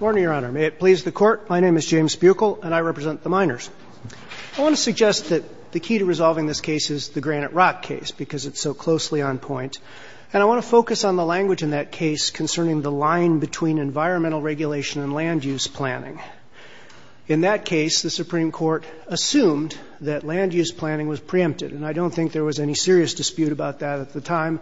Morning, Your Honor. May it please the Court, my name is James Buechel, and I represent the minors. I want to suggest that the key to resolving this case is the Granite Rock case, because it's so closely on point, and I want to focus on the language in that case concerning the line between environmental regulation and land use planning. In that case, the Supreme Court assumed that land use planning was preempted, and I don't think there was any serious dispute about that at the time,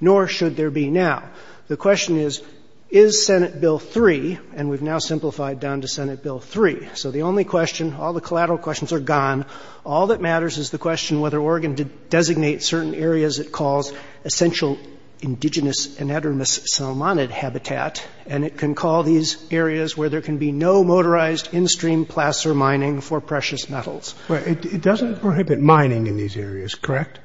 nor should there be now. The question is, is Senate Bill 3, and we've now simplified down to Senate Bill 3. So the only question, all the collateral questions are gone. All that matters is the question whether Oregon did designate certain areas it calls essential indigenous anadromous salmonid habitat, and it can call these areas where there can be no motorized in-stream placer mining for precious metals. But it doesn't prohibit mining in these areas, correct?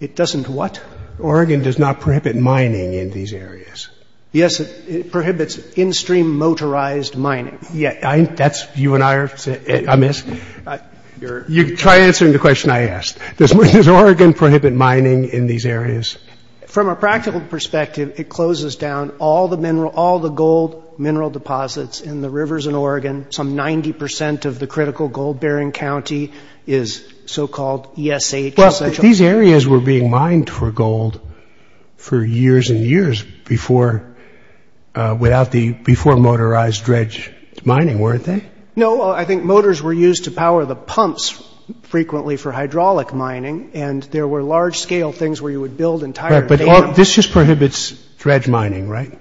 It doesn't what? Oregon does not prohibit mining in these areas. Yes, it prohibits in-stream motorized mining. Yeah, that's you and I are amiss. You try answering the question I asked. Does Oregon prohibit mining in these areas? From a practical perspective, it closes down all the gold mineral deposits in the rivers in Oregon. Some 90% of the critical gold-bearing county is so-called ESH essential. These areas were being mined for gold for years and years before motorized dredge mining, weren't they? No, I think motors were used to power the pumps frequently for hydraulic mining, and there were large-scale things where you would build entire dams. But this just prohibits dredge mining, right?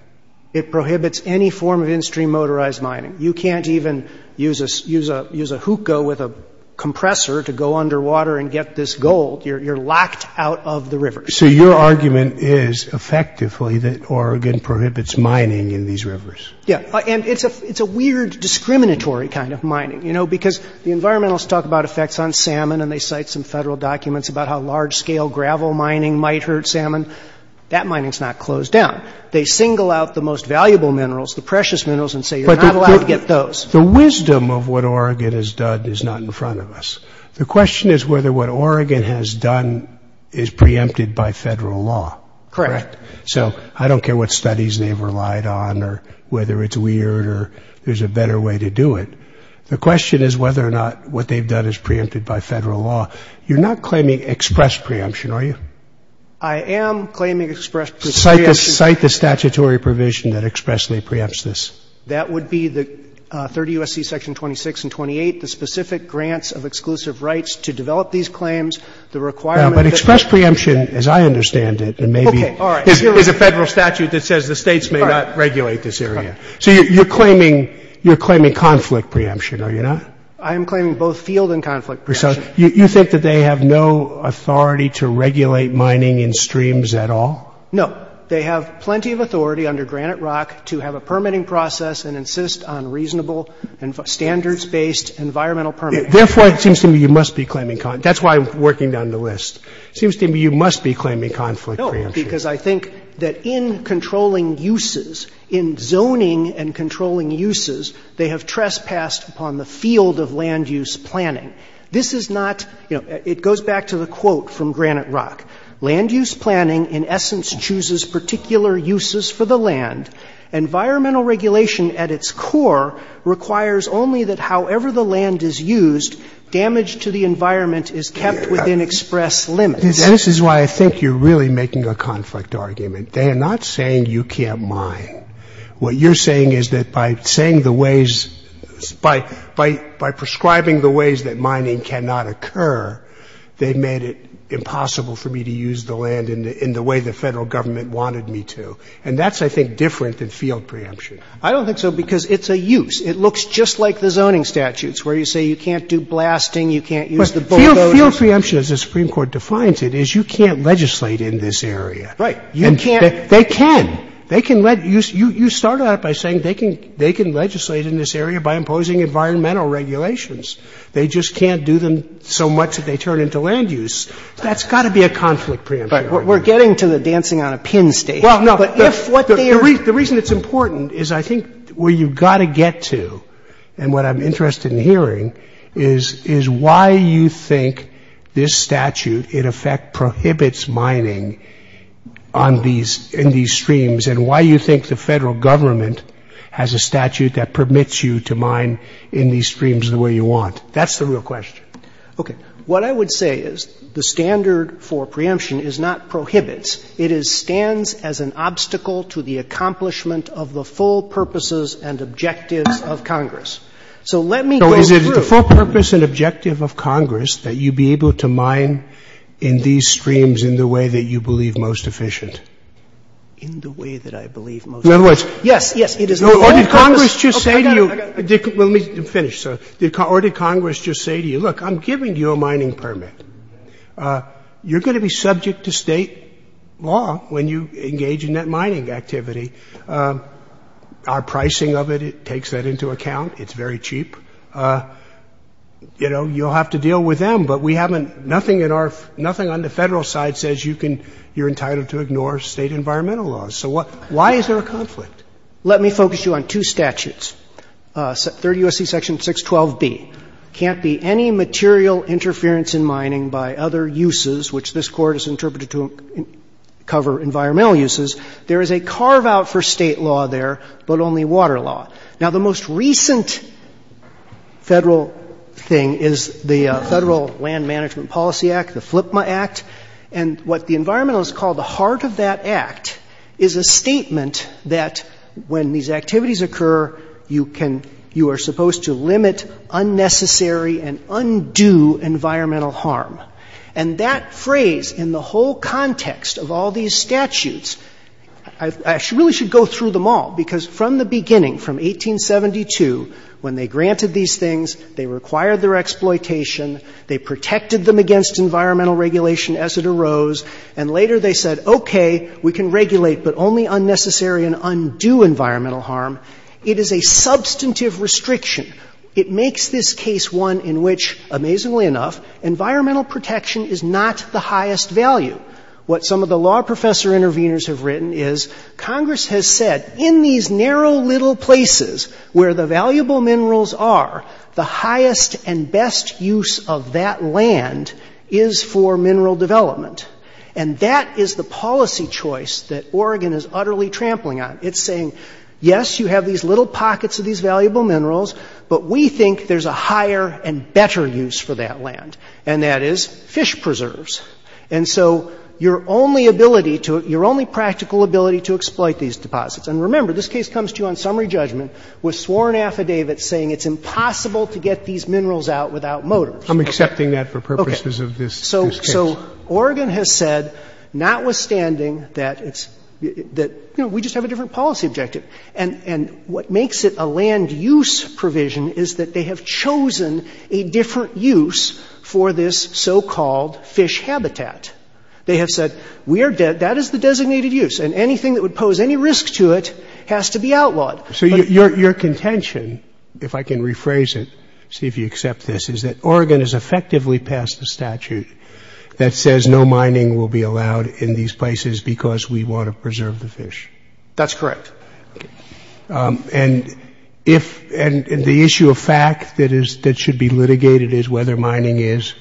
It prohibits any form of in-stream motorized mining. You can't even use a hookah with a compressor to go underwater and get this gold. You're locked out of the rivers. So your argument is, effectively, that Oregon prohibits mining in these rivers. Yeah, and it's a weird discriminatory kind of mining, you know, because the environmentalists talk about effects on salmon, and they cite some Federal documents about how large-scale gravel mining might hurt salmon. That mining's not closed down. They single out the most valuable minerals, the precious minerals, and say you're not allowed to get those. The wisdom of what Oregon has done is not in front of us. The question is whether what Oregon has done is preempted by Federal law. Correct. So I don't care what studies they've relied on or whether it's weird or there's a better way to do it. The question is whether or not what they've done is preempted by Federal law. You're not claiming express preemption, are you? I am claiming express preemption. Cite the statutory provision that expressly preempts this. That would be the 30 U.S.C. Section 26 and 28, the specific grants of exclusive rights to develop these claims. The requirement that- But express preemption, as I understand it, and maybe it's a Federal statute that says the states may not regulate this area. So you're claiming conflict preemption, are you not? I am claiming both field and conflict preemption. You think that they have no authority to regulate mining in streams at all? No. They have plenty of authority under Granite Rock to have a permitting process and insist on reasonable and standards-based environmental permits. Therefore, it seems to me you must be claiming conflict. That's why I'm working down the list. It seems to me you must be claiming conflict preemption. No, because I think that in controlling uses, in zoning and controlling uses, they have trespassed upon the field of land-use planning. This is not, you know, it goes back to the quote Land-use planning in essence chooses particular uses for the land. Environmental regulation at its core requires only that however the land is used, damage to the environment is kept within express limits. And this is why I think you're really making a conflict argument. They are not saying you can't mine. What you're saying is that by saying the ways, by prescribing the ways that mining cannot occur, they've made it impossible for me to use the land in the way the Federal government wanted me to. And that's, I think, different than field preemption. I don't think so because it's a use. It looks just like the zoning statutes where you say you can't do blasting, you can't use the bulldozers. But field preemption, as the Supreme Court defines it, is you can't legislate in this area. Right. You can't. They can. They can let you – you started out by saying they can legislate in this area by imposing environmental regulations. They just can't do them so much that they turn into land-use. That's got to be a conflict preemption. Right. We're getting to the dancing on a pin stage. Well, no, the reason it's important is I think where you've got to get to and what I'm interested in hearing is why you think this statute, in effect, prohibits mining on these – in these streams and why you think the Federal government has a statute that permits you to mine in these streams the way you want. That's the real question. Okay. What I would say is the standard for preemption is not prohibits. It is stands as an obstacle to the accomplishment of the full purposes and objectives of Congress. So let me go through. So is it the full purpose and objective of Congress that you be able to mine in these streams in the way that you believe most efficient? In the way that I believe most efficient. In other words, no, or did Congress just say to you – Yes, yes, it is the full purpose – Well, let me finish, sir. Or did Congress just say to you, look, I'm giving you a mining permit. You're going to be subject to State law when you engage in that mining activity. Our pricing of it, it takes that into account. It's very cheap. You know, you'll have to deal with them, but we haven't – nothing in our – nothing on the Federal side says you can – you're entitled to ignore State environmental laws. So why is there a conflict? Let me focus you on two statutes, 30 U.S.C. Section 612B. Can't be any material interference in mining by other uses, which this Court has interpreted to cover environmental uses. There is a carve-out for State law there, but only water law. Now, the most recent Federal thing is the Federal Land Management Policy Act, the FLPMA Act. And what the environmentalists call the heart of that act is a statement that when these things, they require their exploitation, they protected them against environmental regulation as it arose, and later they said, okay, we can regulate, but only unnecessary and undo environmental harm. them all. It makes this case one in which, amazingly enough, environmental protection is not the highest value. What some of the law professor interveners have written is Congress has said in these narrow little places where the valuable minerals are, the highest and best use of that land is for mineral development. And that is the policy choice that Oregon is utterly trampling on. It's saying, yes, you have these little pockets of these valuable minerals, but we think there's a higher and better use for that land, and that is fish preserves. And so your only ability to – your only practical ability to exploit these deposits – and remember, this case comes to you on summary judgment with sworn affidavits saying it's impossible to get these minerals out without motors. I'm accepting that for purposes of this case. So Oregon has said, notwithstanding that it's – that, you know, we just have a different policy objective. And what makes it a land-use provision is that they have chosen a different use for this so-called fish habitat. They have said, we are – that is the designated use, and anything that would pose any risk to it has to be outlawed. So your contention – if I can rephrase it, see if you accept this – is that Oregon has effectively passed a statute that says no mining will be allowed in these places because we want to preserve the fish. That's correct. And if – and the issue of fact that is – that should be litigated is whether mining is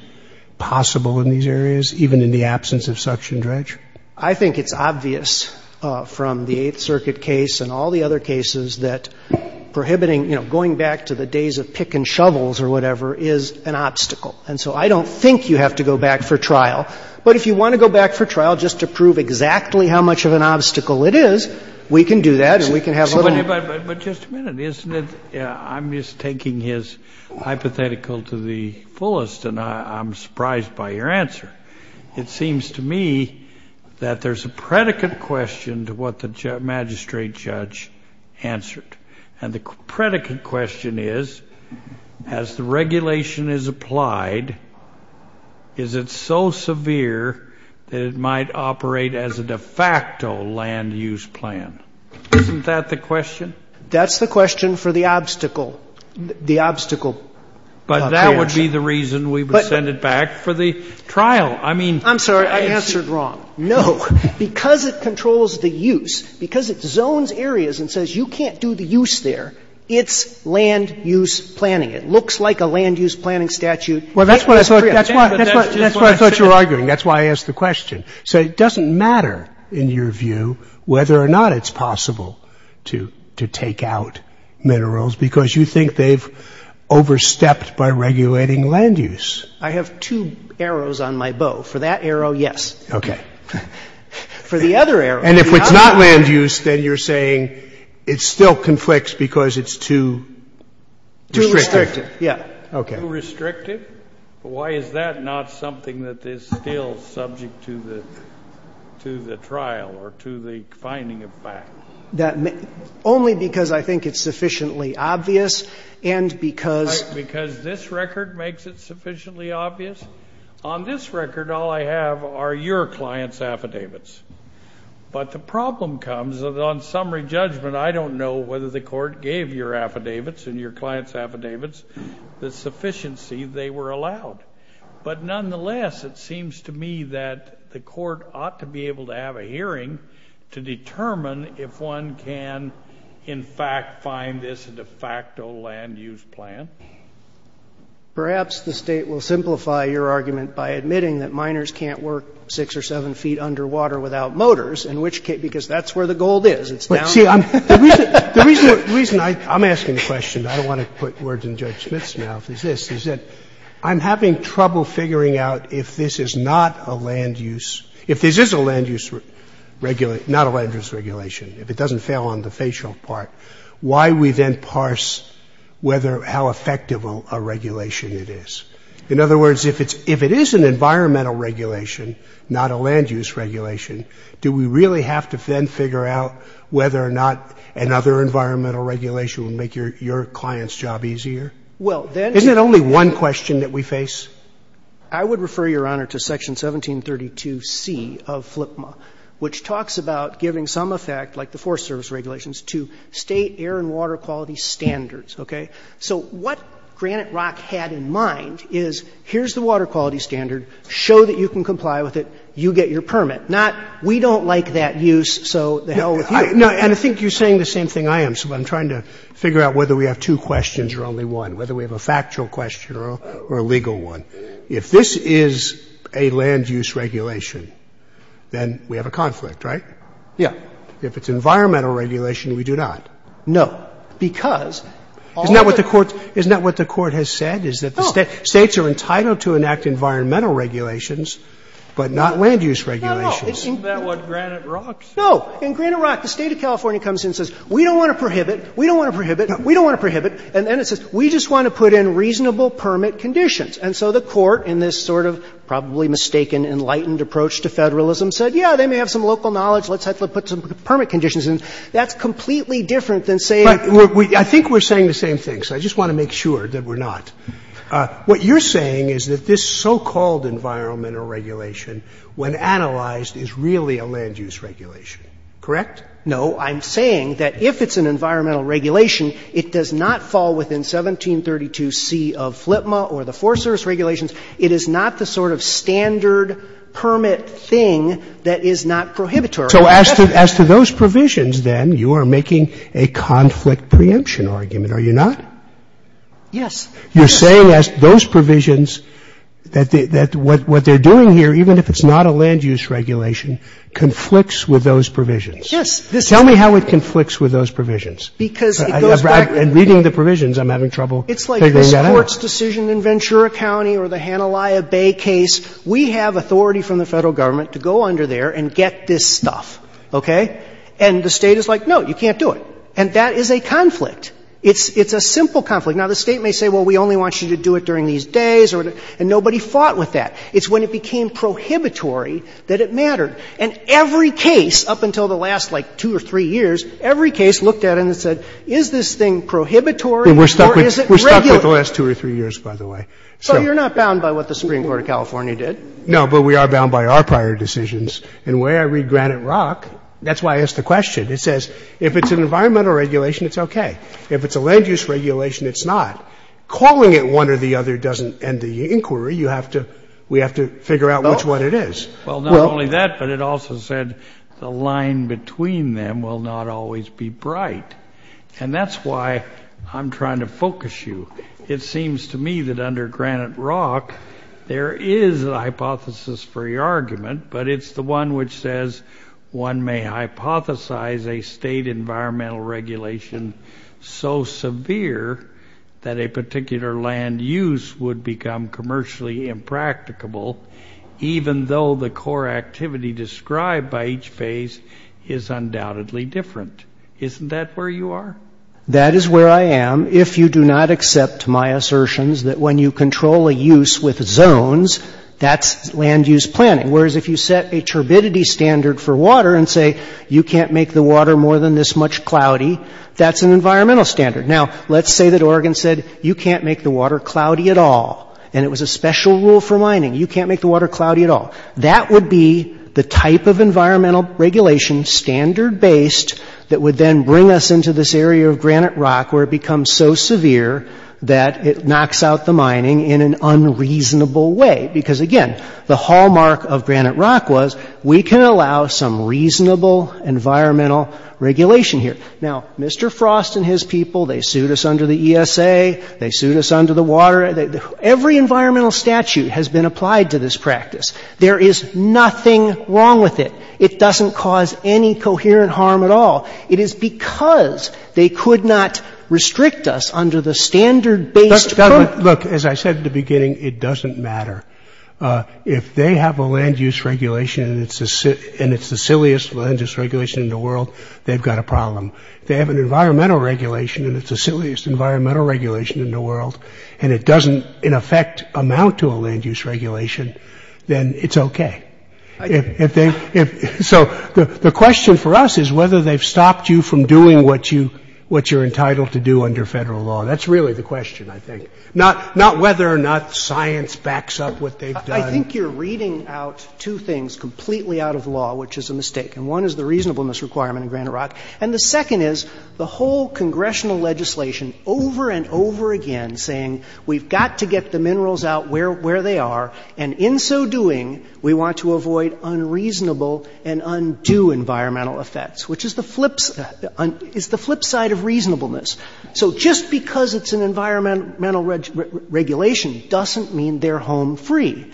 possible in these areas, even in the absence of suction dredge? I think it's obvious from the Eighth Circuit case and all the other cases that prohibiting – you know, going back to the days of pick and shovels or whatever is an obstacle. And so I don't think you have to go back for trial. But if you want to go back for trial just to prove exactly how much of an obstacle it is, we can do that, and we can have a little more. But just a minute. Isn't it – I'm just taking his hypothetical to the fullest, and I'm surprised by your answer. It seems to me that there's a predicate question to what the magistrate judge answered. And the predicate question is, as the regulation is applied, is it so severe that it might operate as a de facto land use plan? Isn't that the question? That's the question for the obstacle – the obstacle plan. But that would be the reason we would send it back for the trial. I mean – I'm sorry. I answered wrong. No. Because it controls the use, because it zones areas and says you can't do the use there, it's land use planning. It looks like a land use planning statute. Well, that's what I thought – that's what I thought you were arguing. That's why I asked the question. So it doesn't matter, in your view, whether or not it's possible to take out minerals, because you think they've overstepped by regulating land use. I have two arrows on my bow. For that arrow, yes. Okay. For the other arrow, the other arrow – And if it's not land use, then you're saying it still conflicts because it's too restrictive. Yeah. Okay. Too restrictive? Why is that not something that is still subject to the – to the trial or to the finding of facts? That – only because I think it's sufficiently obvious and because – Because this record makes it sufficiently obvious? On this record, all I have are your client's affidavits. But the problem comes that on summary judgment, I don't know whether the court gave your affidavits and your client's affidavits the sufficiency they were allowed. But nonetheless, it seems to me that the court ought to be able to have a hearing to determine if one can, in fact, find this a de facto land use plan. Perhaps the State will simplify your argument by admitting that miners can't work six or seven feet underwater without motors, in which case – because that's where the gold is. It's down – But, see, I'm – the reason – the reason I – I'm asking the question. I don't want to put words in Judge Smith's mouth. It's this. It's that I'm having trouble figuring out if this is not a land use – if this is a land use – not a land use regulation, if it doesn't fail on the facial part, why do we then parse whether – how effective a regulation it is? In other words, if it's – if it is an environmental regulation, not a land use regulation, do we really have to then figure out whether or not another environmental regulation would make your client's job easier? Well, then – Isn't it only one question that we face? I would refer, Your Honor, to Section 1732C of FLIPMA, which talks about giving some effect, like the Forest Service regulations, to state air and water quality standards. Okay? So what Granite Rock had in mind is, here's the water quality standard. Show that you can comply with it. You get your permit. Not, we don't like that use, so the hell with you. No, and I think you're saying the same thing I am. So I'm trying to figure out whether we have two questions or only one, whether we have a factual question or a legal one. If this is a land use regulation, then we have a conflict, right? Yeah. If it's environmental regulation, we do not. No, because all of the – Isn't that what the Court has said, is that the States are entitled to enact environmental regulations, but not land use regulations? No, no. Isn't that what Granite Rock says? No. In Granite Rock, the State of California comes in and says, we don't want to prohibit, we don't want to prohibit, we don't want to prohibit, and then it says, we just want to put in reasonable permit conditions. And so the Court, in this sort of probably mistaken, enlightened approach to federalism, said, yeah, they may have some local knowledge, let's put some permit conditions in. That's completely different than saying – But I think we're saying the same thing, so I just want to make sure that we're not. What you're saying is that this so-called environmental regulation, when analyzed, is really a land use regulation, correct? No. I'm saying that if it's an environmental regulation, it does not fall within 1732c of FLTMA or the Forest Service regulations. It is not the sort of standard permit thing that is not prohibitory. So as to those provisions, then, you are making a conflict preemption argument, are you not? Yes. You're saying as to those provisions that what they're doing here, even if it's not a land use regulation, conflicts with those provisions? Yes. Tell me how it conflicts with those provisions. Because it goes back to the – And reading the provisions, I'm having trouble figuring that out. The courts' decision in Ventura County or the Hanaliah Bay case, we have authority from the Federal Government to go under there and get this stuff, okay? And the State is like, no, you can't do it. And that is a conflict. It's a simple conflict. Now, the State may say, well, we only want you to do it during these days, and nobody fought with that. It's when it became prohibitory that it mattered. And every case up until the last, like, two or three years, every case looked at it and said, is this thing prohibitory or is it regular? And it's been like that for the last two or three years, by the way. So you're not bound by what the Supreme Court of California did? No, but we are bound by our prior decisions. And the way I read Granite Rock, that's why I asked the question. It says if it's an environmental regulation, it's okay. If it's a land use regulation, it's not. Calling it one or the other doesn't end the inquiry. You have to – we have to figure out which one it is. Well, not only that, but it also said the line between them will not always be bright. And that's why I'm trying to focus you. It seems to me that under Granite Rock, there is a hypothesis-free argument, but it's the one which says one may hypothesize a state environmental regulation so severe that a particular land use would become commercially impracticable, even though the core activity described by each phase is undoubtedly different. Isn't that where you are? That is where I am. If you do not accept my assertions that when you control a use with zones, that's land use planning. Whereas if you set a turbidity standard for water and say, you can't make the water more than this much cloudy, that's an environmental standard. Now, let's say that Oregon said, you can't make the water cloudy at all. And it was a special rule for mining. You can't make the water cloudy at all. That would be the type of environmental regulation, standard-based, that would then bring us into this area of Granite Rock, where it becomes so severe that it knocks out the mining in an unreasonable way. Because again, the hallmark of Granite Rock was, we can allow some reasonable environmental regulation here. Now, Mr. Frost and his people, they sued us under the ESA. They sued us under the water. Every environmental statute has been applied to this practice. There is nothing wrong with it. It doesn't cause any coherent harm at all. It is because they could not restrict us under the standard-based. Look, as I said at the beginning, it doesn't matter. If they have a land use regulation and it's the silliest land use regulation in the world, they've got a problem. They have an environmental regulation and it's the silliest environmental regulation in the world. And it doesn't, in effect, amount to a land use regulation. Then it's okay. So the question for us is whether they've stopped you from doing what you're entitled to do under federal law. That's really the question, I think. Not whether or not science backs up what they've done. I think you're reading out two things completely out of law, which is a mistake. And one is the reasonableness requirement in Granite Rock. And the second is the whole congressional legislation over and over again saying, we've got to get the minerals out where they are. And in so doing, we want to avoid unreasonable and undo environmental effects, which is the flip side of reasonableness. So just because it's an environmental regulation doesn't mean they're home free.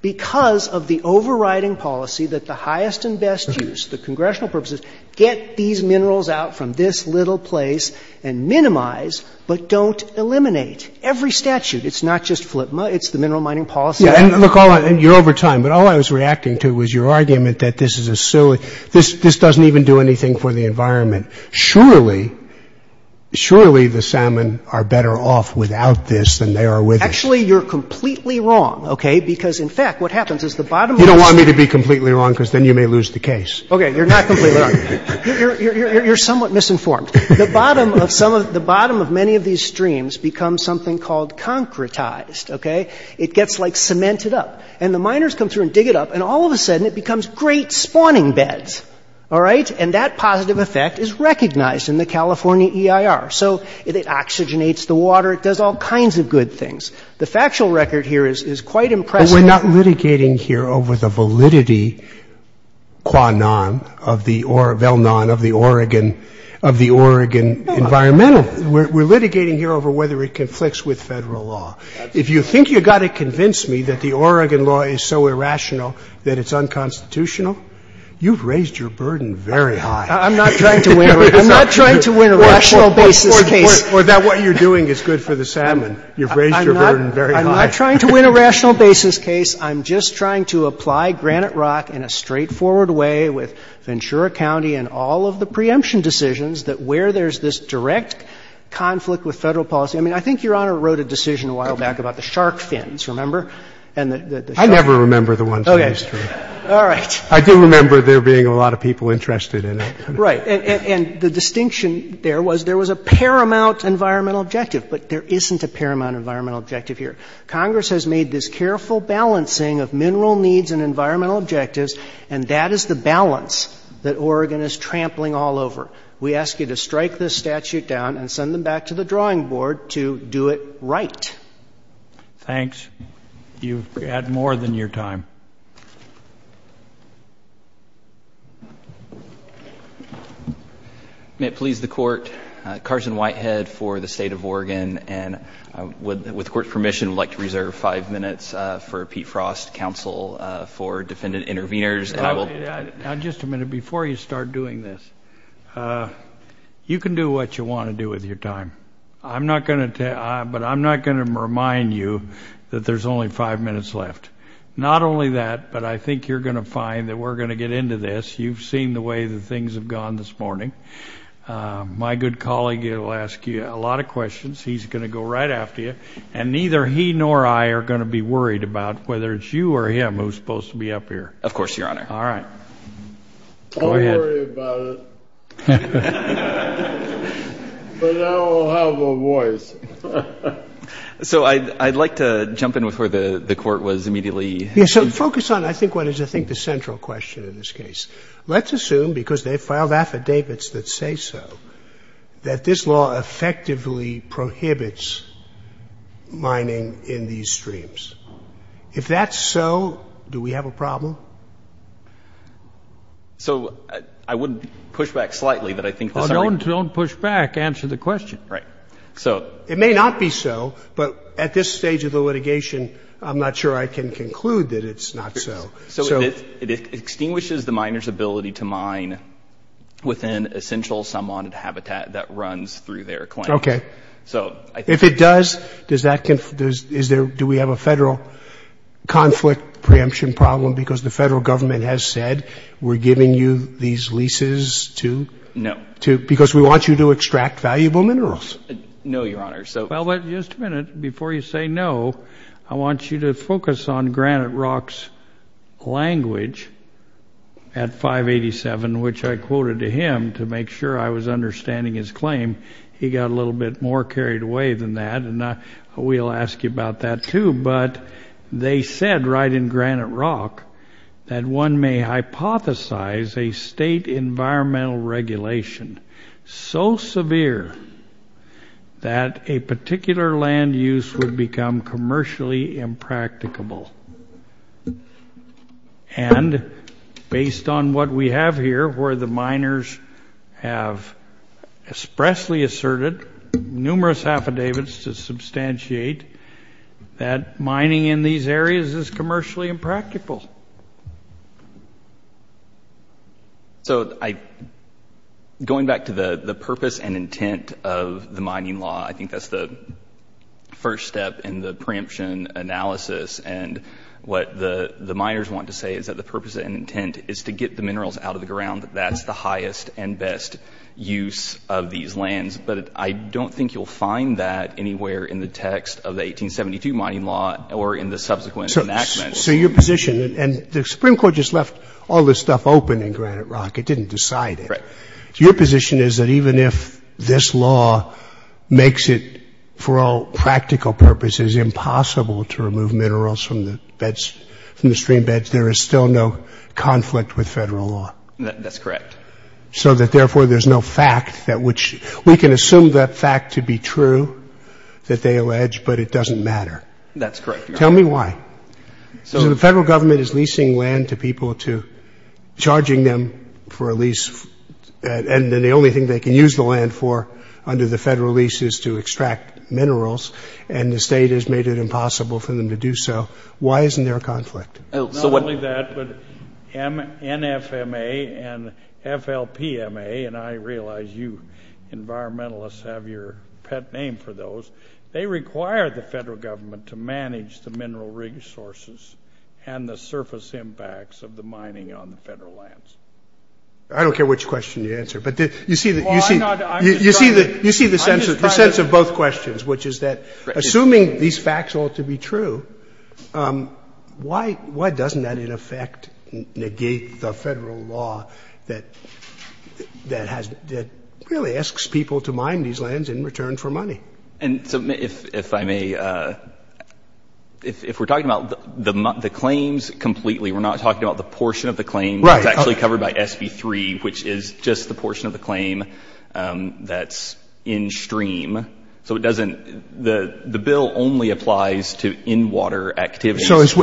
Because of the overriding policy that the highest and best use, the congressional purposes, get these minerals out from this little place and minimize, but don't eliminate. Every statute, it's not just FLIPMA, it's the mineral mining policy. Yeah, and look, hold on, you're over time. But all I was reacting to was your argument that this is a silly, this doesn't even do anything for the environment. Surely, surely the salmon are better off without this than they are with it. Actually, you're completely wrong, okay? Because in fact, what happens is the bottom of the- You don't want me to be completely wrong because then you may lose the case. Okay, you're not completely wrong. You're somewhat misinformed. The bottom of many of these streams become something called concretized, okay? It gets like cemented up. And the miners come through and dig it up. And all of a sudden, it becomes great spawning beds, all right? And that positive effect is recognized in the California EIR. So it oxygenates the water, it does all kinds of good things. The factual record here is quite impressive. We're not litigating here over the validity, qua non, of the, or the Oregon environmental. We're litigating here over whether it conflicts with Federal law. If you think you've got to convince me that the Oregon law is so irrational that it's unconstitutional, you've raised your burden very high. I'm not trying to win a rational basis case. Or that what you're doing is good for the salmon. You've raised your burden very high. I'm not trying to win a rational basis case. I'm just trying to apply Granite Rock in a straightforward way with Ventura County and all of the preemption decisions, that where there's this direct conflict with Federal policy. I mean, I think Your Honor wrote a decision a while back about the shark fins, remember? And the shark fins. Roberts. I never remember the ones in the history. All right. I do remember there being a lot of people interested in it. Right. And the distinction there was there was a paramount environmental objective. But there isn't a paramount environmental objective here. Congress has made this careful balancing of mineral needs and environmental objectives, and that is the balance that Oregon is trampling all over. We ask you to strike this statute down and send them back to the drawing board to do it right. Thanks. You've had more than your time. May it please the Court. Carson Whitehead for the State of Oregon. And with the Court's permission, I'd like to reserve five minutes for Pete Frost counsel for defendant intervenors. And I will. Just a minute. Before you start doing this, you can do what you want to do with your time. I'm not going to tell, but I'm not going to remind you that there's only five minutes left. Not only that, but I think you're going to find that we're going to get into this. You've seen the way that things have gone this morning. My good colleague will ask you a lot of questions. He's going to go right after you. And neither he nor I are going to be worried about whether it's you or him who's supposed to be up here. Of course, Your Honor. All right. Go ahead. Don't worry about it. But now I'll have a voice. So I'd like to jump in with where the Court was immediately. Yes, so focus on, I think, what is, I think, the central question in this case. Let's assume, because they filed affidavits that say so, that this law effectively prohibits mining in these streams. If that's so, do we have a problem? So I wouldn't push back slightly, but I think this already- Well, don't push back. Answer the question. Right. So- It may not be so, but at this stage of the litigation, I'm not sure I can conclude that it's not so. So it extinguishes the miner's ability to mine within essential, somewhat habitat that runs through their claims. Okay. So I think- If it does, does that, is there, do we have a federal conflict preemption problem because the federal government has said we're giving you these leases to- No. To, because we want you to extract valuable minerals. No, Your Honor. So- Well, but just a minute before you say no, I want you to focus on Granite Rock's language at 587, which I quoted to him to make sure I was understanding his claim. He got a little bit more carried away than that, and we'll ask you about that too, but they said right in Granite Rock that one may hypothesize a state environmental regulation so severe that a particular land use would become commercially impracticable. And based on what we have here, where the miners have expressly asserted numerous affidavits to substantiate that mining in these areas is commercially impractical. So I, going back to the purpose and intent of the mining law, I think that's the first step in the preemption analysis. And what the miners want to say is that the purpose and intent is to get the minerals out of the ground. That's the highest and best use of these lands. But I don't think you'll find that anywhere in the text of the 1872 mining law or in the subsequent enactment. So your position, and the Supreme Court just left all this stuff open in Granite Rock. It didn't decide it. Correct. Your position is that even if this law makes it, for all practical purposes, impossible to remove minerals from the streambeds, there is still no conflict with federal law. That's correct. So that, therefore, there's no fact that which, we can assume that fact to be true, that they allege, but it doesn't matter. That's correct. Tell me why. So the federal government is leasing land to people to, charging them for a And then the only thing they can use the land for under the federal lease is to extract minerals. And the state has made it impossible for them to do so. Why isn't there a conflict? Not only that, but NFMA and FLPMA, and I realize you environmentalists have your pet name for those. They require the federal government to manage the mineral resources and the surface impacts of the mining on the federal lands. I don't care which question you answer, but you see the sense of both questions, which is that assuming these facts ought to be true, why doesn't that, in effect, negate the federal law that really asks people to mine these lands in return for money? And if I may, if we're talking about the claims completely, we're not talking about the portion of the claim that's actually covered by SB3, which is just the portion of the claim that's in stream. So it doesn't, the bill only applies to in-water activities. So is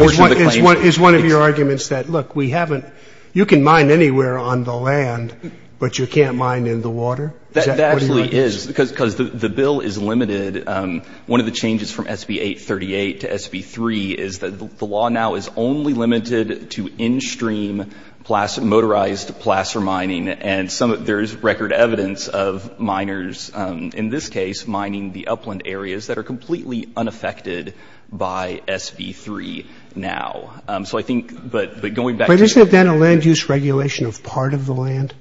one of your arguments that, look, we haven't, you can mine anywhere on the land, but you can't mine in the water? That actually is because the bill is limited. One of the changes from SB838 to SB3 is that the law now is only limited to in-stream, motorized placer mining, and there's record evidence of miners, in this case, mining the upland areas that are completely unaffected by SB3 now. So I think, but going back to- But isn't that a land use regulation of part of the land?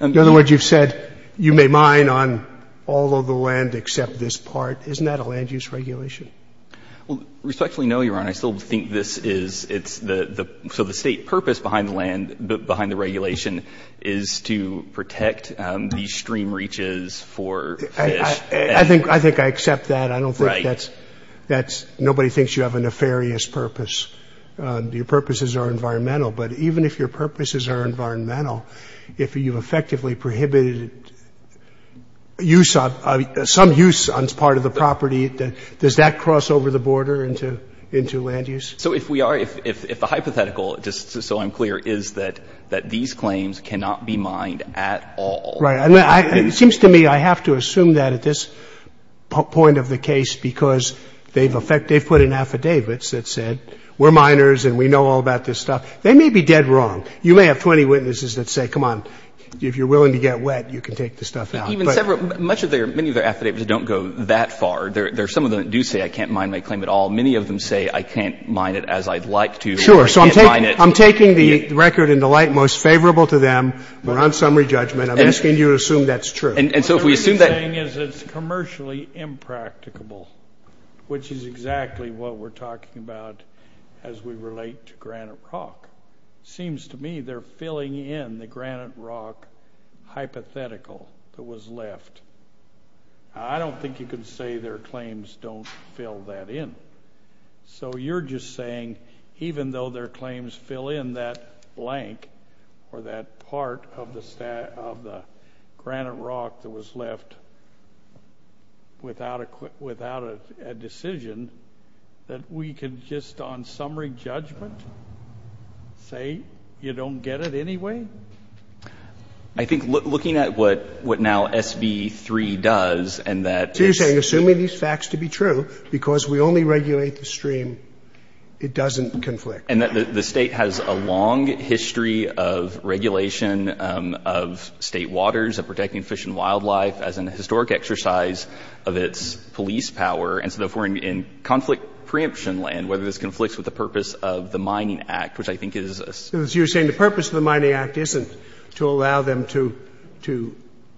In other words, you've said you may mine on all of the land except this part. Isn't that a land use regulation? Well, respectfully, no, Your Honor. And I still think this is, it's the, so the state purpose behind the land, behind the regulation is to protect these stream reaches for fish. I think, I think I accept that. I don't think that's, that's, nobody thinks you have a nefarious purpose. Your purposes are environmental, but even if your purposes are environmental, if you've effectively prohibited use of, some use on part of the property, does that cross over the border into land use? So if we are, if the hypothetical, just so I'm clear, is that these claims cannot be mined at all. Right, and it seems to me I have to assume that at this point of the case, because they've put in affidavits that said we're miners and we know all about this stuff. They may be dead wrong. You may have 20 witnesses that say, come on, if you're willing to get wet, you can take the stuff out. Even several, many of their affidavits don't go that far. There are some of them that do say, I can't mine my claim at all. Many of them say, I can't mine it as I'd like to. Sure, so I'm taking the record in the light most favorable to them. We're on summary judgment. I'm asking you to assume that's true. And so if we assume that. What we're saying is it's commercially impracticable, which is exactly what we're talking about as we relate to granite rock. Seems to me they're filling in the granite rock hypothetical that was left. I don't think you can say their claims don't fill that in. So you're just saying, even though their claims fill in that blank, or that part of the granite rock that was left without a decision, that we can just on summary judgment say you don't get it anyway? I think looking at what now SB3 does and that- So you're saying, assuming these facts to be true, because we only regulate the stream, it doesn't conflict. And that the state has a long history of regulation of state waters, of protecting fish and wildlife as an historic exercise of its police power. And so if we're in conflict preemption land, whether this conflicts with the purpose of the Mining Act, which I think is- So you're saying the purpose of the Mining Act isn't to allow them to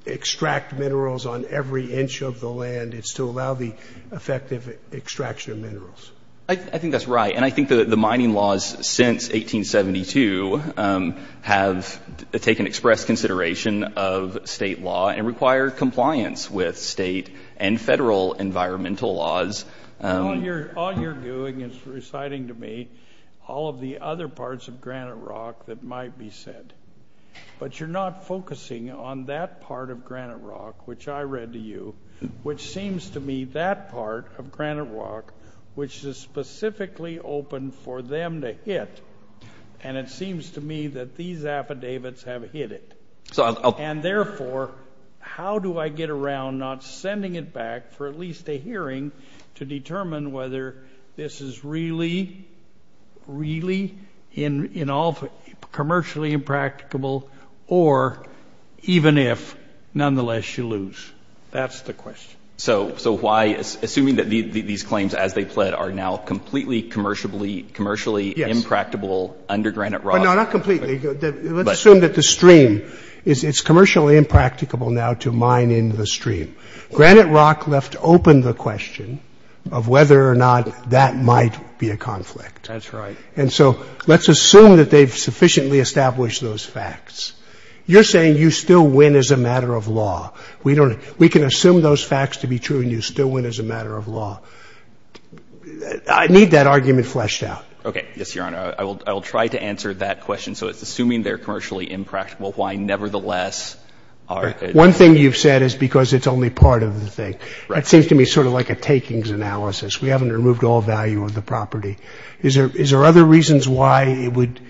extract minerals on every inch of the land. It's to allow the effective extraction of minerals. I think that's right. And I think that the mining laws since 1872 have taken express consideration of state law and require compliance with state and federal environmental laws. All you're doing is reciting to me all of the other parts of granite rock that might be said. But you're not focusing on that part of granite rock, which I read to you, which seems to me that part of granite rock, which is specifically open for them to hit, and it seems to me that these affidavits have hit it. And therefore, how do I get around not sending it back for at least a hearing to determine whether this is really, really commercially impracticable, or even if, nonetheless, you lose? That's the question. So why, assuming that these claims, as they pled, are now completely commercially impracticable under granite rock- No, not completely. Let's assume that the stream, it's commercially impracticable now to mine into the stream. Granite rock left open the question of whether or not that might be a conflict. That's right. And so let's assume that they've sufficiently established those facts. You're saying you still win as a matter of law. We can assume those facts to be true, and you still win as a matter of law. I need that argument fleshed out. OK, yes, Your Honor. I will try to answer that question. So it's assuming they're commercially impracticable, why, nevertheless- One thing you've said is because it's only part of the thing. It seems to me sort of like a takings analysis. We haven't removed all value of the property. Is there other reasons why it would,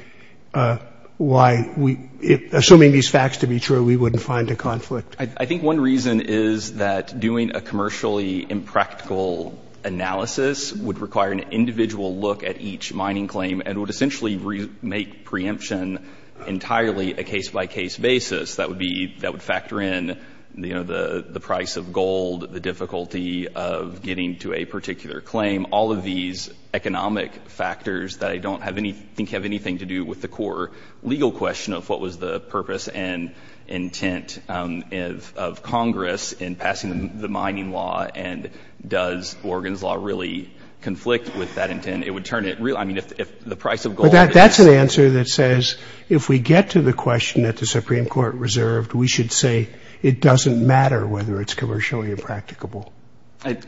assuming these facts to be true, we wouldn't find a conflict? I think one reason is that doing a commercially impractical analysis would require an individual look at each mining claim and would essentially make preemption entirely a case-by-case basis. That would factor in the price of gold, the difficulty of getting to a particular claim, all of these economic factors that I don't think have anything to do with the core legal question of what was the purpose and intent of Congress in passing the mining law. And does Oregon's law really conflict with that intent? It would turn it real- I mean, if the price of gold- That's an answer that says, if we get to the question that the Supreme Court reserved, we should say, it doesn't matter whether it's commercially impracticable. I-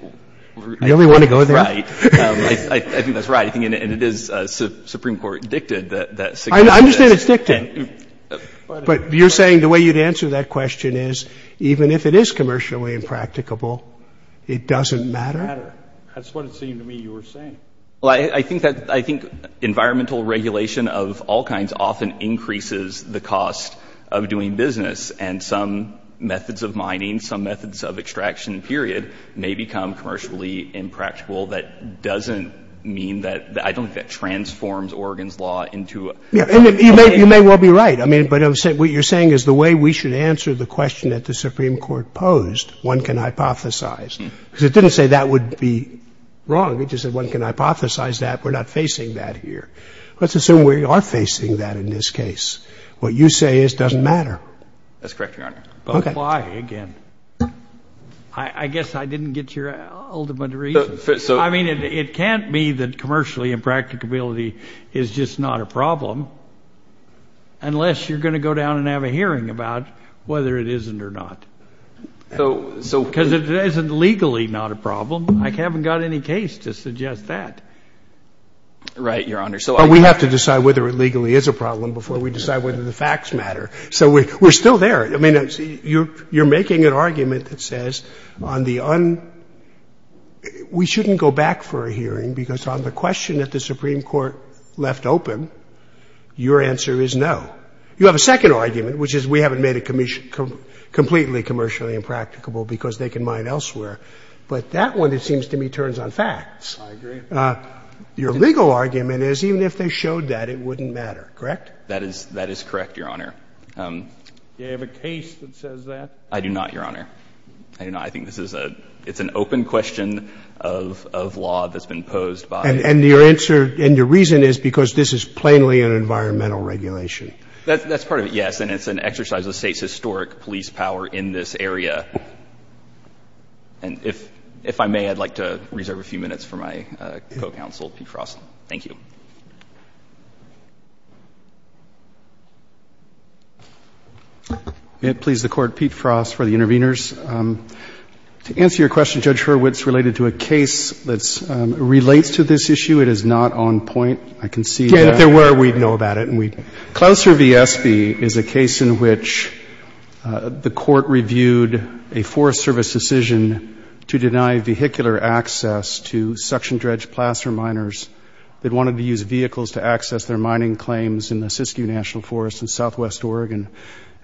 You only want to go there? Right. I think that's right. I think it is Supreme Court dictated that- I understand it's dictated. But you're saying the way you'd answer that question is, even if it is commercially impracticable, it doesn't matter? That's what it seemed to me you were saying. Well, I think that- I think environmental regulation of all kinds often increases the cost of doing business. And some methods of mining, some methods of extraction, period, may become commercially impractical. That doesn't mean that- I don't think that transforms Oregon's law into- Yeah, and you may well be right. I mean, but what you're saying is the way we should answer the question that the Supreme Court posed, one can hypothesize. Because it didn't say that would be wrong. It just said one can hypothesize that we're not facing that here. Let's assume we are facing that in this case. What you say is doesn't matter. That's correct, Your Honor. But why, again? I guess I didn't get your ultimate reason. I mean, it can't be that commercially impracticability is just not a problem unless you're going to go down and have a hearing about whether it isn't or not. So- Because it isn't legally not a problem. I haven't got any case to suggest that. Right, Your Honor. But we have to decide whether it legally is a problem before we decide whether the facts matter. So we're still there. I mean, you're making an argument that says on the un- we shouldn't go back for a hearing because on the question that the Supreme Court left open, your answer is no. You have a second argument, which is we haven't made it completely commercially impracticable because they can mine elsewhere. But that one, it seems to me, turns on facts. I agree. Your legal argument is even if they showed that, it wouldn't matter, correct? That is correct, Your Honor. Do you have a case that says that? I do not, Your Honor. I do not. I think this is a- it's an open question of law that's been posed by- And your answer- and your reason is because this is plainly an environmental regulation. That's part of it, yes. And it's an exercise of the state's historic police power in this area. And if I may, I'd like to reserve a few minutes for my co-counsel, Pete Frost. Thank you. May it please the Court, Pete Frost for the interveners. To answer your question, Judge Hurwitz, related to a case that relates to this issue, it is not on point. I can see that. If there were, we'd know about it. Clouser v. Espy is a case in which the court reviewed a Forest Service decision to deny vehicular access to suction-dredged placer miners that wanted to use vehicles to access their mining claims in the Siskiyou National Forest in southwest Oregon.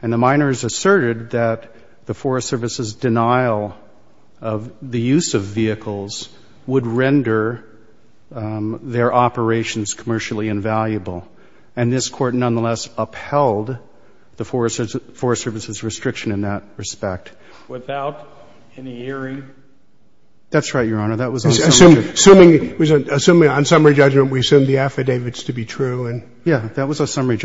And the miners asserted that the Forest Service's denial of the use of vehicles would render their operations commercially invaluable. And this Court nonetheless upheld the Forest Service's restriction in that respect. Without any hearing? That's right, Your Honor. Assuming on summary judgment we assume the affidavits to be true. Yeah, that was affirming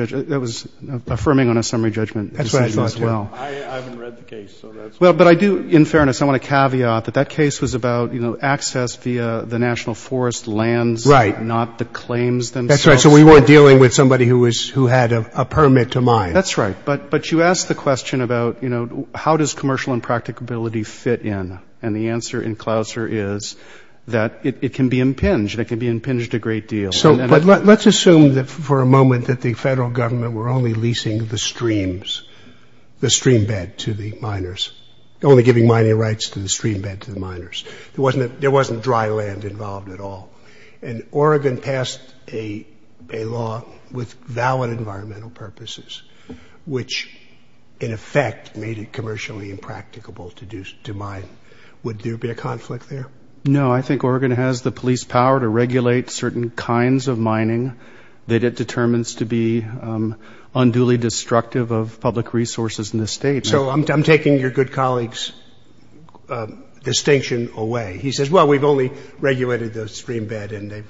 on a summary judgment decision as well. I haven't read the case. But I do, in fairness, I want to caveat that that case was about access via the National Forest lands, not the claims themselves. That's right, so we weren't dealing with somebody who had a permit to mine. That's right. But you asked the question about, you know, how does commercial impracticability fit in? And the answer in Clouser is that it can be impinged. It can be impinged a great deal. So let's assume for a moment that the federal government were only leasing the streams, the stream bed to the miners, only giving mining rights to the stream bed to the miners. There wasn't dry land involved at all. And Oregon passed a law with valid environmental purposes, which in effect made it commercially impracticable to mine. Would there be a conflict there? No, I think Oregon has the police power to regulate certain kinds of mining that it determines to be unduly destructive of public resources in the state. So I'm taking your good colleague's distinction away. He says, well, we've only regulated the stream bed and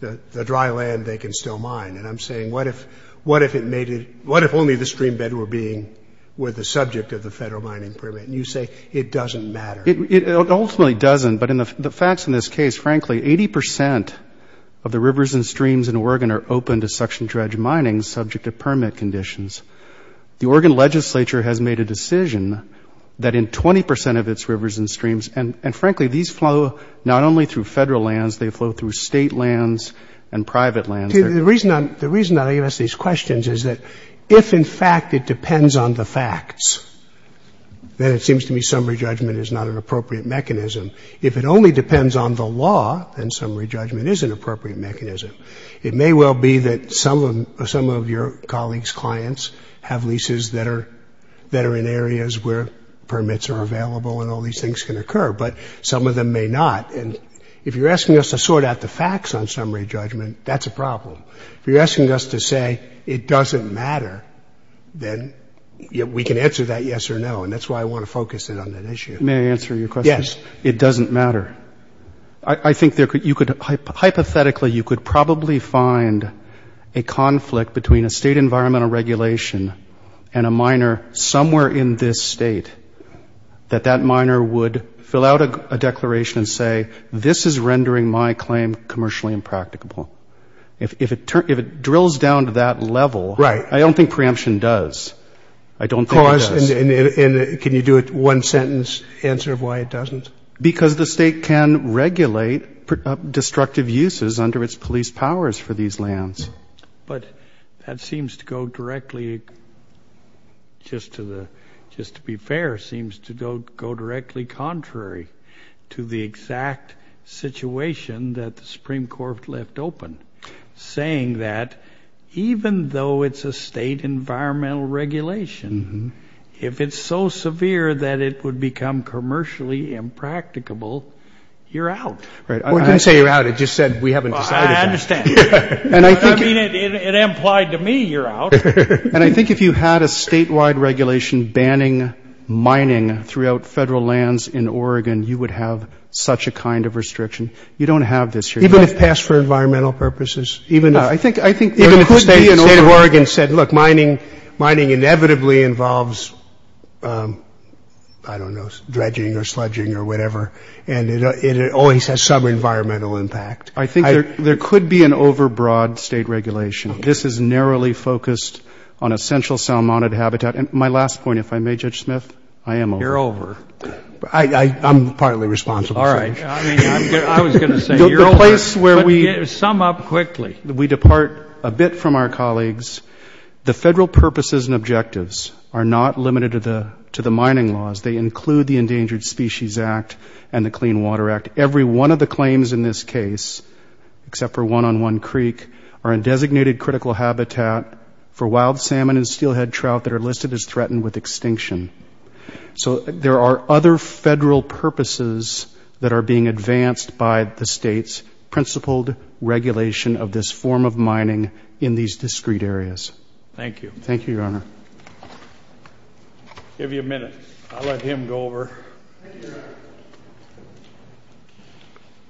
the dry land they can still mine. And I'm saying, what if only the stream bed were the subject of the federal mining permit? And you say, it doesn't matter. It ultimately doesn't, but the facts in this case, frankly, 80% of the rivers and streams in Oregon are open to suction dredge mining subject to permit conditions. The Oregon legislature has made a decision that in 20% of its rivers and streams, and frankly, these flow not only through federal lands, they flow through state lands and private lands. The reason that I ask these questions is that if in fact it depends on the facts, then it seems to me summary judgment is not an appropriate mechanism. If it only depends on the law, then summary judgment is an appropriate mechanism. It may well be that some of your colleagues' clients have leases that are in areas where permits are available and all these things can occur, but some of them may not. And if you're asking us to sort out the facts on summary judgment, that's a problem. If you're asking us to say it doesn't matter, then we can answer that yes or no. And that's why I want to focus in on that issue. May I answer your question? Yes. It doesn't matter. I think you could, hypothetically, you could probably find a conflict between a state environmental regulation and a minor somewhere in this state that that minor would fill out a declaration and say, this is rendering my claim commercially impracticable. If it drills down to that level, I don't think preemption does. I don't think it does. And can you do a one-sentence answer of why it doesn't? Because the state can regulate destructive uses under its police powers for these lands. But that seems to go directly, just to be fair, seems to go directly contrary to the exact situation that the Supreme Court left open, saying that even though it's a state environmental regulation, if it's so severe that it would become commercially impracticable, you're out. Right. I didn't say you're out. It just said we haven't decided. I understand. I mean, it implied to me you're out. And I think if you had a statewide regulation banning mining throughout federal lands in Oregon, you would have such a kind of restriction. You don't have this here. Even if passed for environmental purposes? Even if the state of Oregon said, look, mining inevitably involves, I don't know, dredging or sludging or whatever, and it always has some environmental impact. I think there could be an overbroad state regulation. This is narrowly focused on essential salmonid habitat. And my last point, if I may, Judge Smith, I am over. You're over. I'm partly responsible. All right. I mean, I was going to say, you're over. The place where we... Sum up quickly. We depart a bit from our colleagues. The federal purposes and objectives are not limited to the mining laws. They include the Endangered Species Act and the Clean Water Act. Every one of the claims in this case, except for one on one creek, are in designated critical habitat for wild salmon and steelhead trout that are listed as threatened with extinction. So there are other federal purposes that are being advanced by the state's principled regulation of this form of mining in these discrete areas. Thank you. Thank you, Your Honor. Give you a minute. I'll let him go over. Thank you, Your Honor.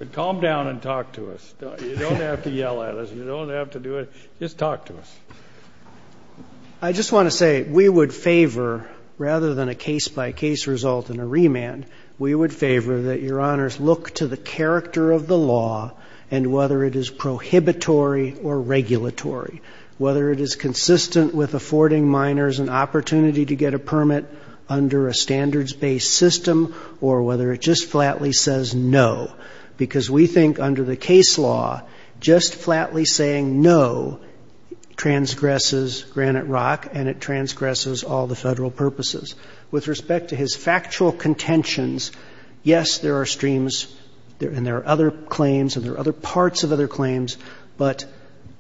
But calm down and talk to us. You don't have to yell at us. You don't have to do it. Just talk to us. I just want to say, we would favor, rather than a case by case result and a remand, we would favor that Your Honors look to the character of the law and whether it is prohibitory or regulatory. Whether it is consistent with affording miners an opportunity to get a permit under a standards-based system or whether it just flatly says no. Because we think under the case law, just flatly saying no transgresses Granite Rock and it transgresses all the federal purposes. With respect to his factual contentions, yes, there are streams and there are other claims and there are other parts of other claims, but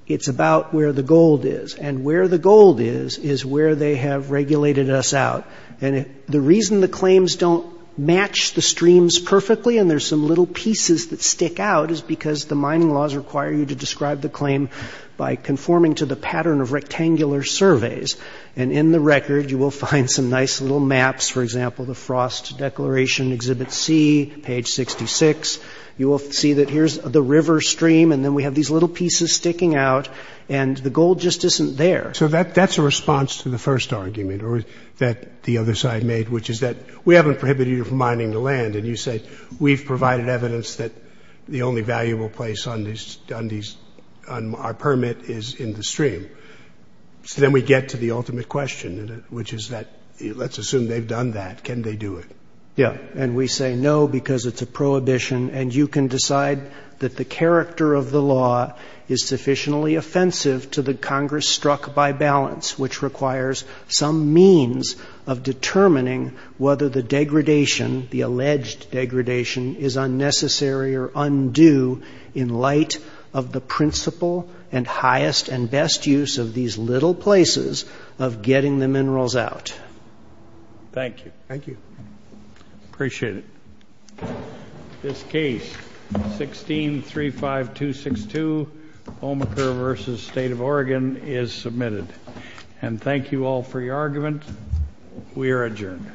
it's about where the gold is. And where the gold is is where they have regulated us out. And the reason the claims don't match the streams perfectly and there's some little pieces that stick out is because the mining laws require you to describe the claim by conforming to the pattern of rectangular surveys. And in the record, you will find some nice little maps. For example, the Frost Declaration, Exhibit C, page 66. You will see that here's the river stream and then we have these little pieces sticking out and the gold just isn't there. So that's a response to the first argument that the other side made, which is that we haven't prohibited you from mining the land. And you say we've provided evidence that the only valuable place on our permit is in the stream. So then we get to the ultimate question, which is that let's assume they've done that. Can they do it? Yeah, and we say no because it's a prohibition. And you can decide that the character of the law is sufficiently offensive to the Congress struck by balance, which requires some means of determining whether the degradation, the alleged degradation, is unnecessary or undue in light of the principle and highest and best use of these little places of getting the minerals out. Thank you. Thank you. Appreciate it. This case, 1635262, Omaka versus State of Oregon, is submitted. And thank you all for your argument. We are adjourned.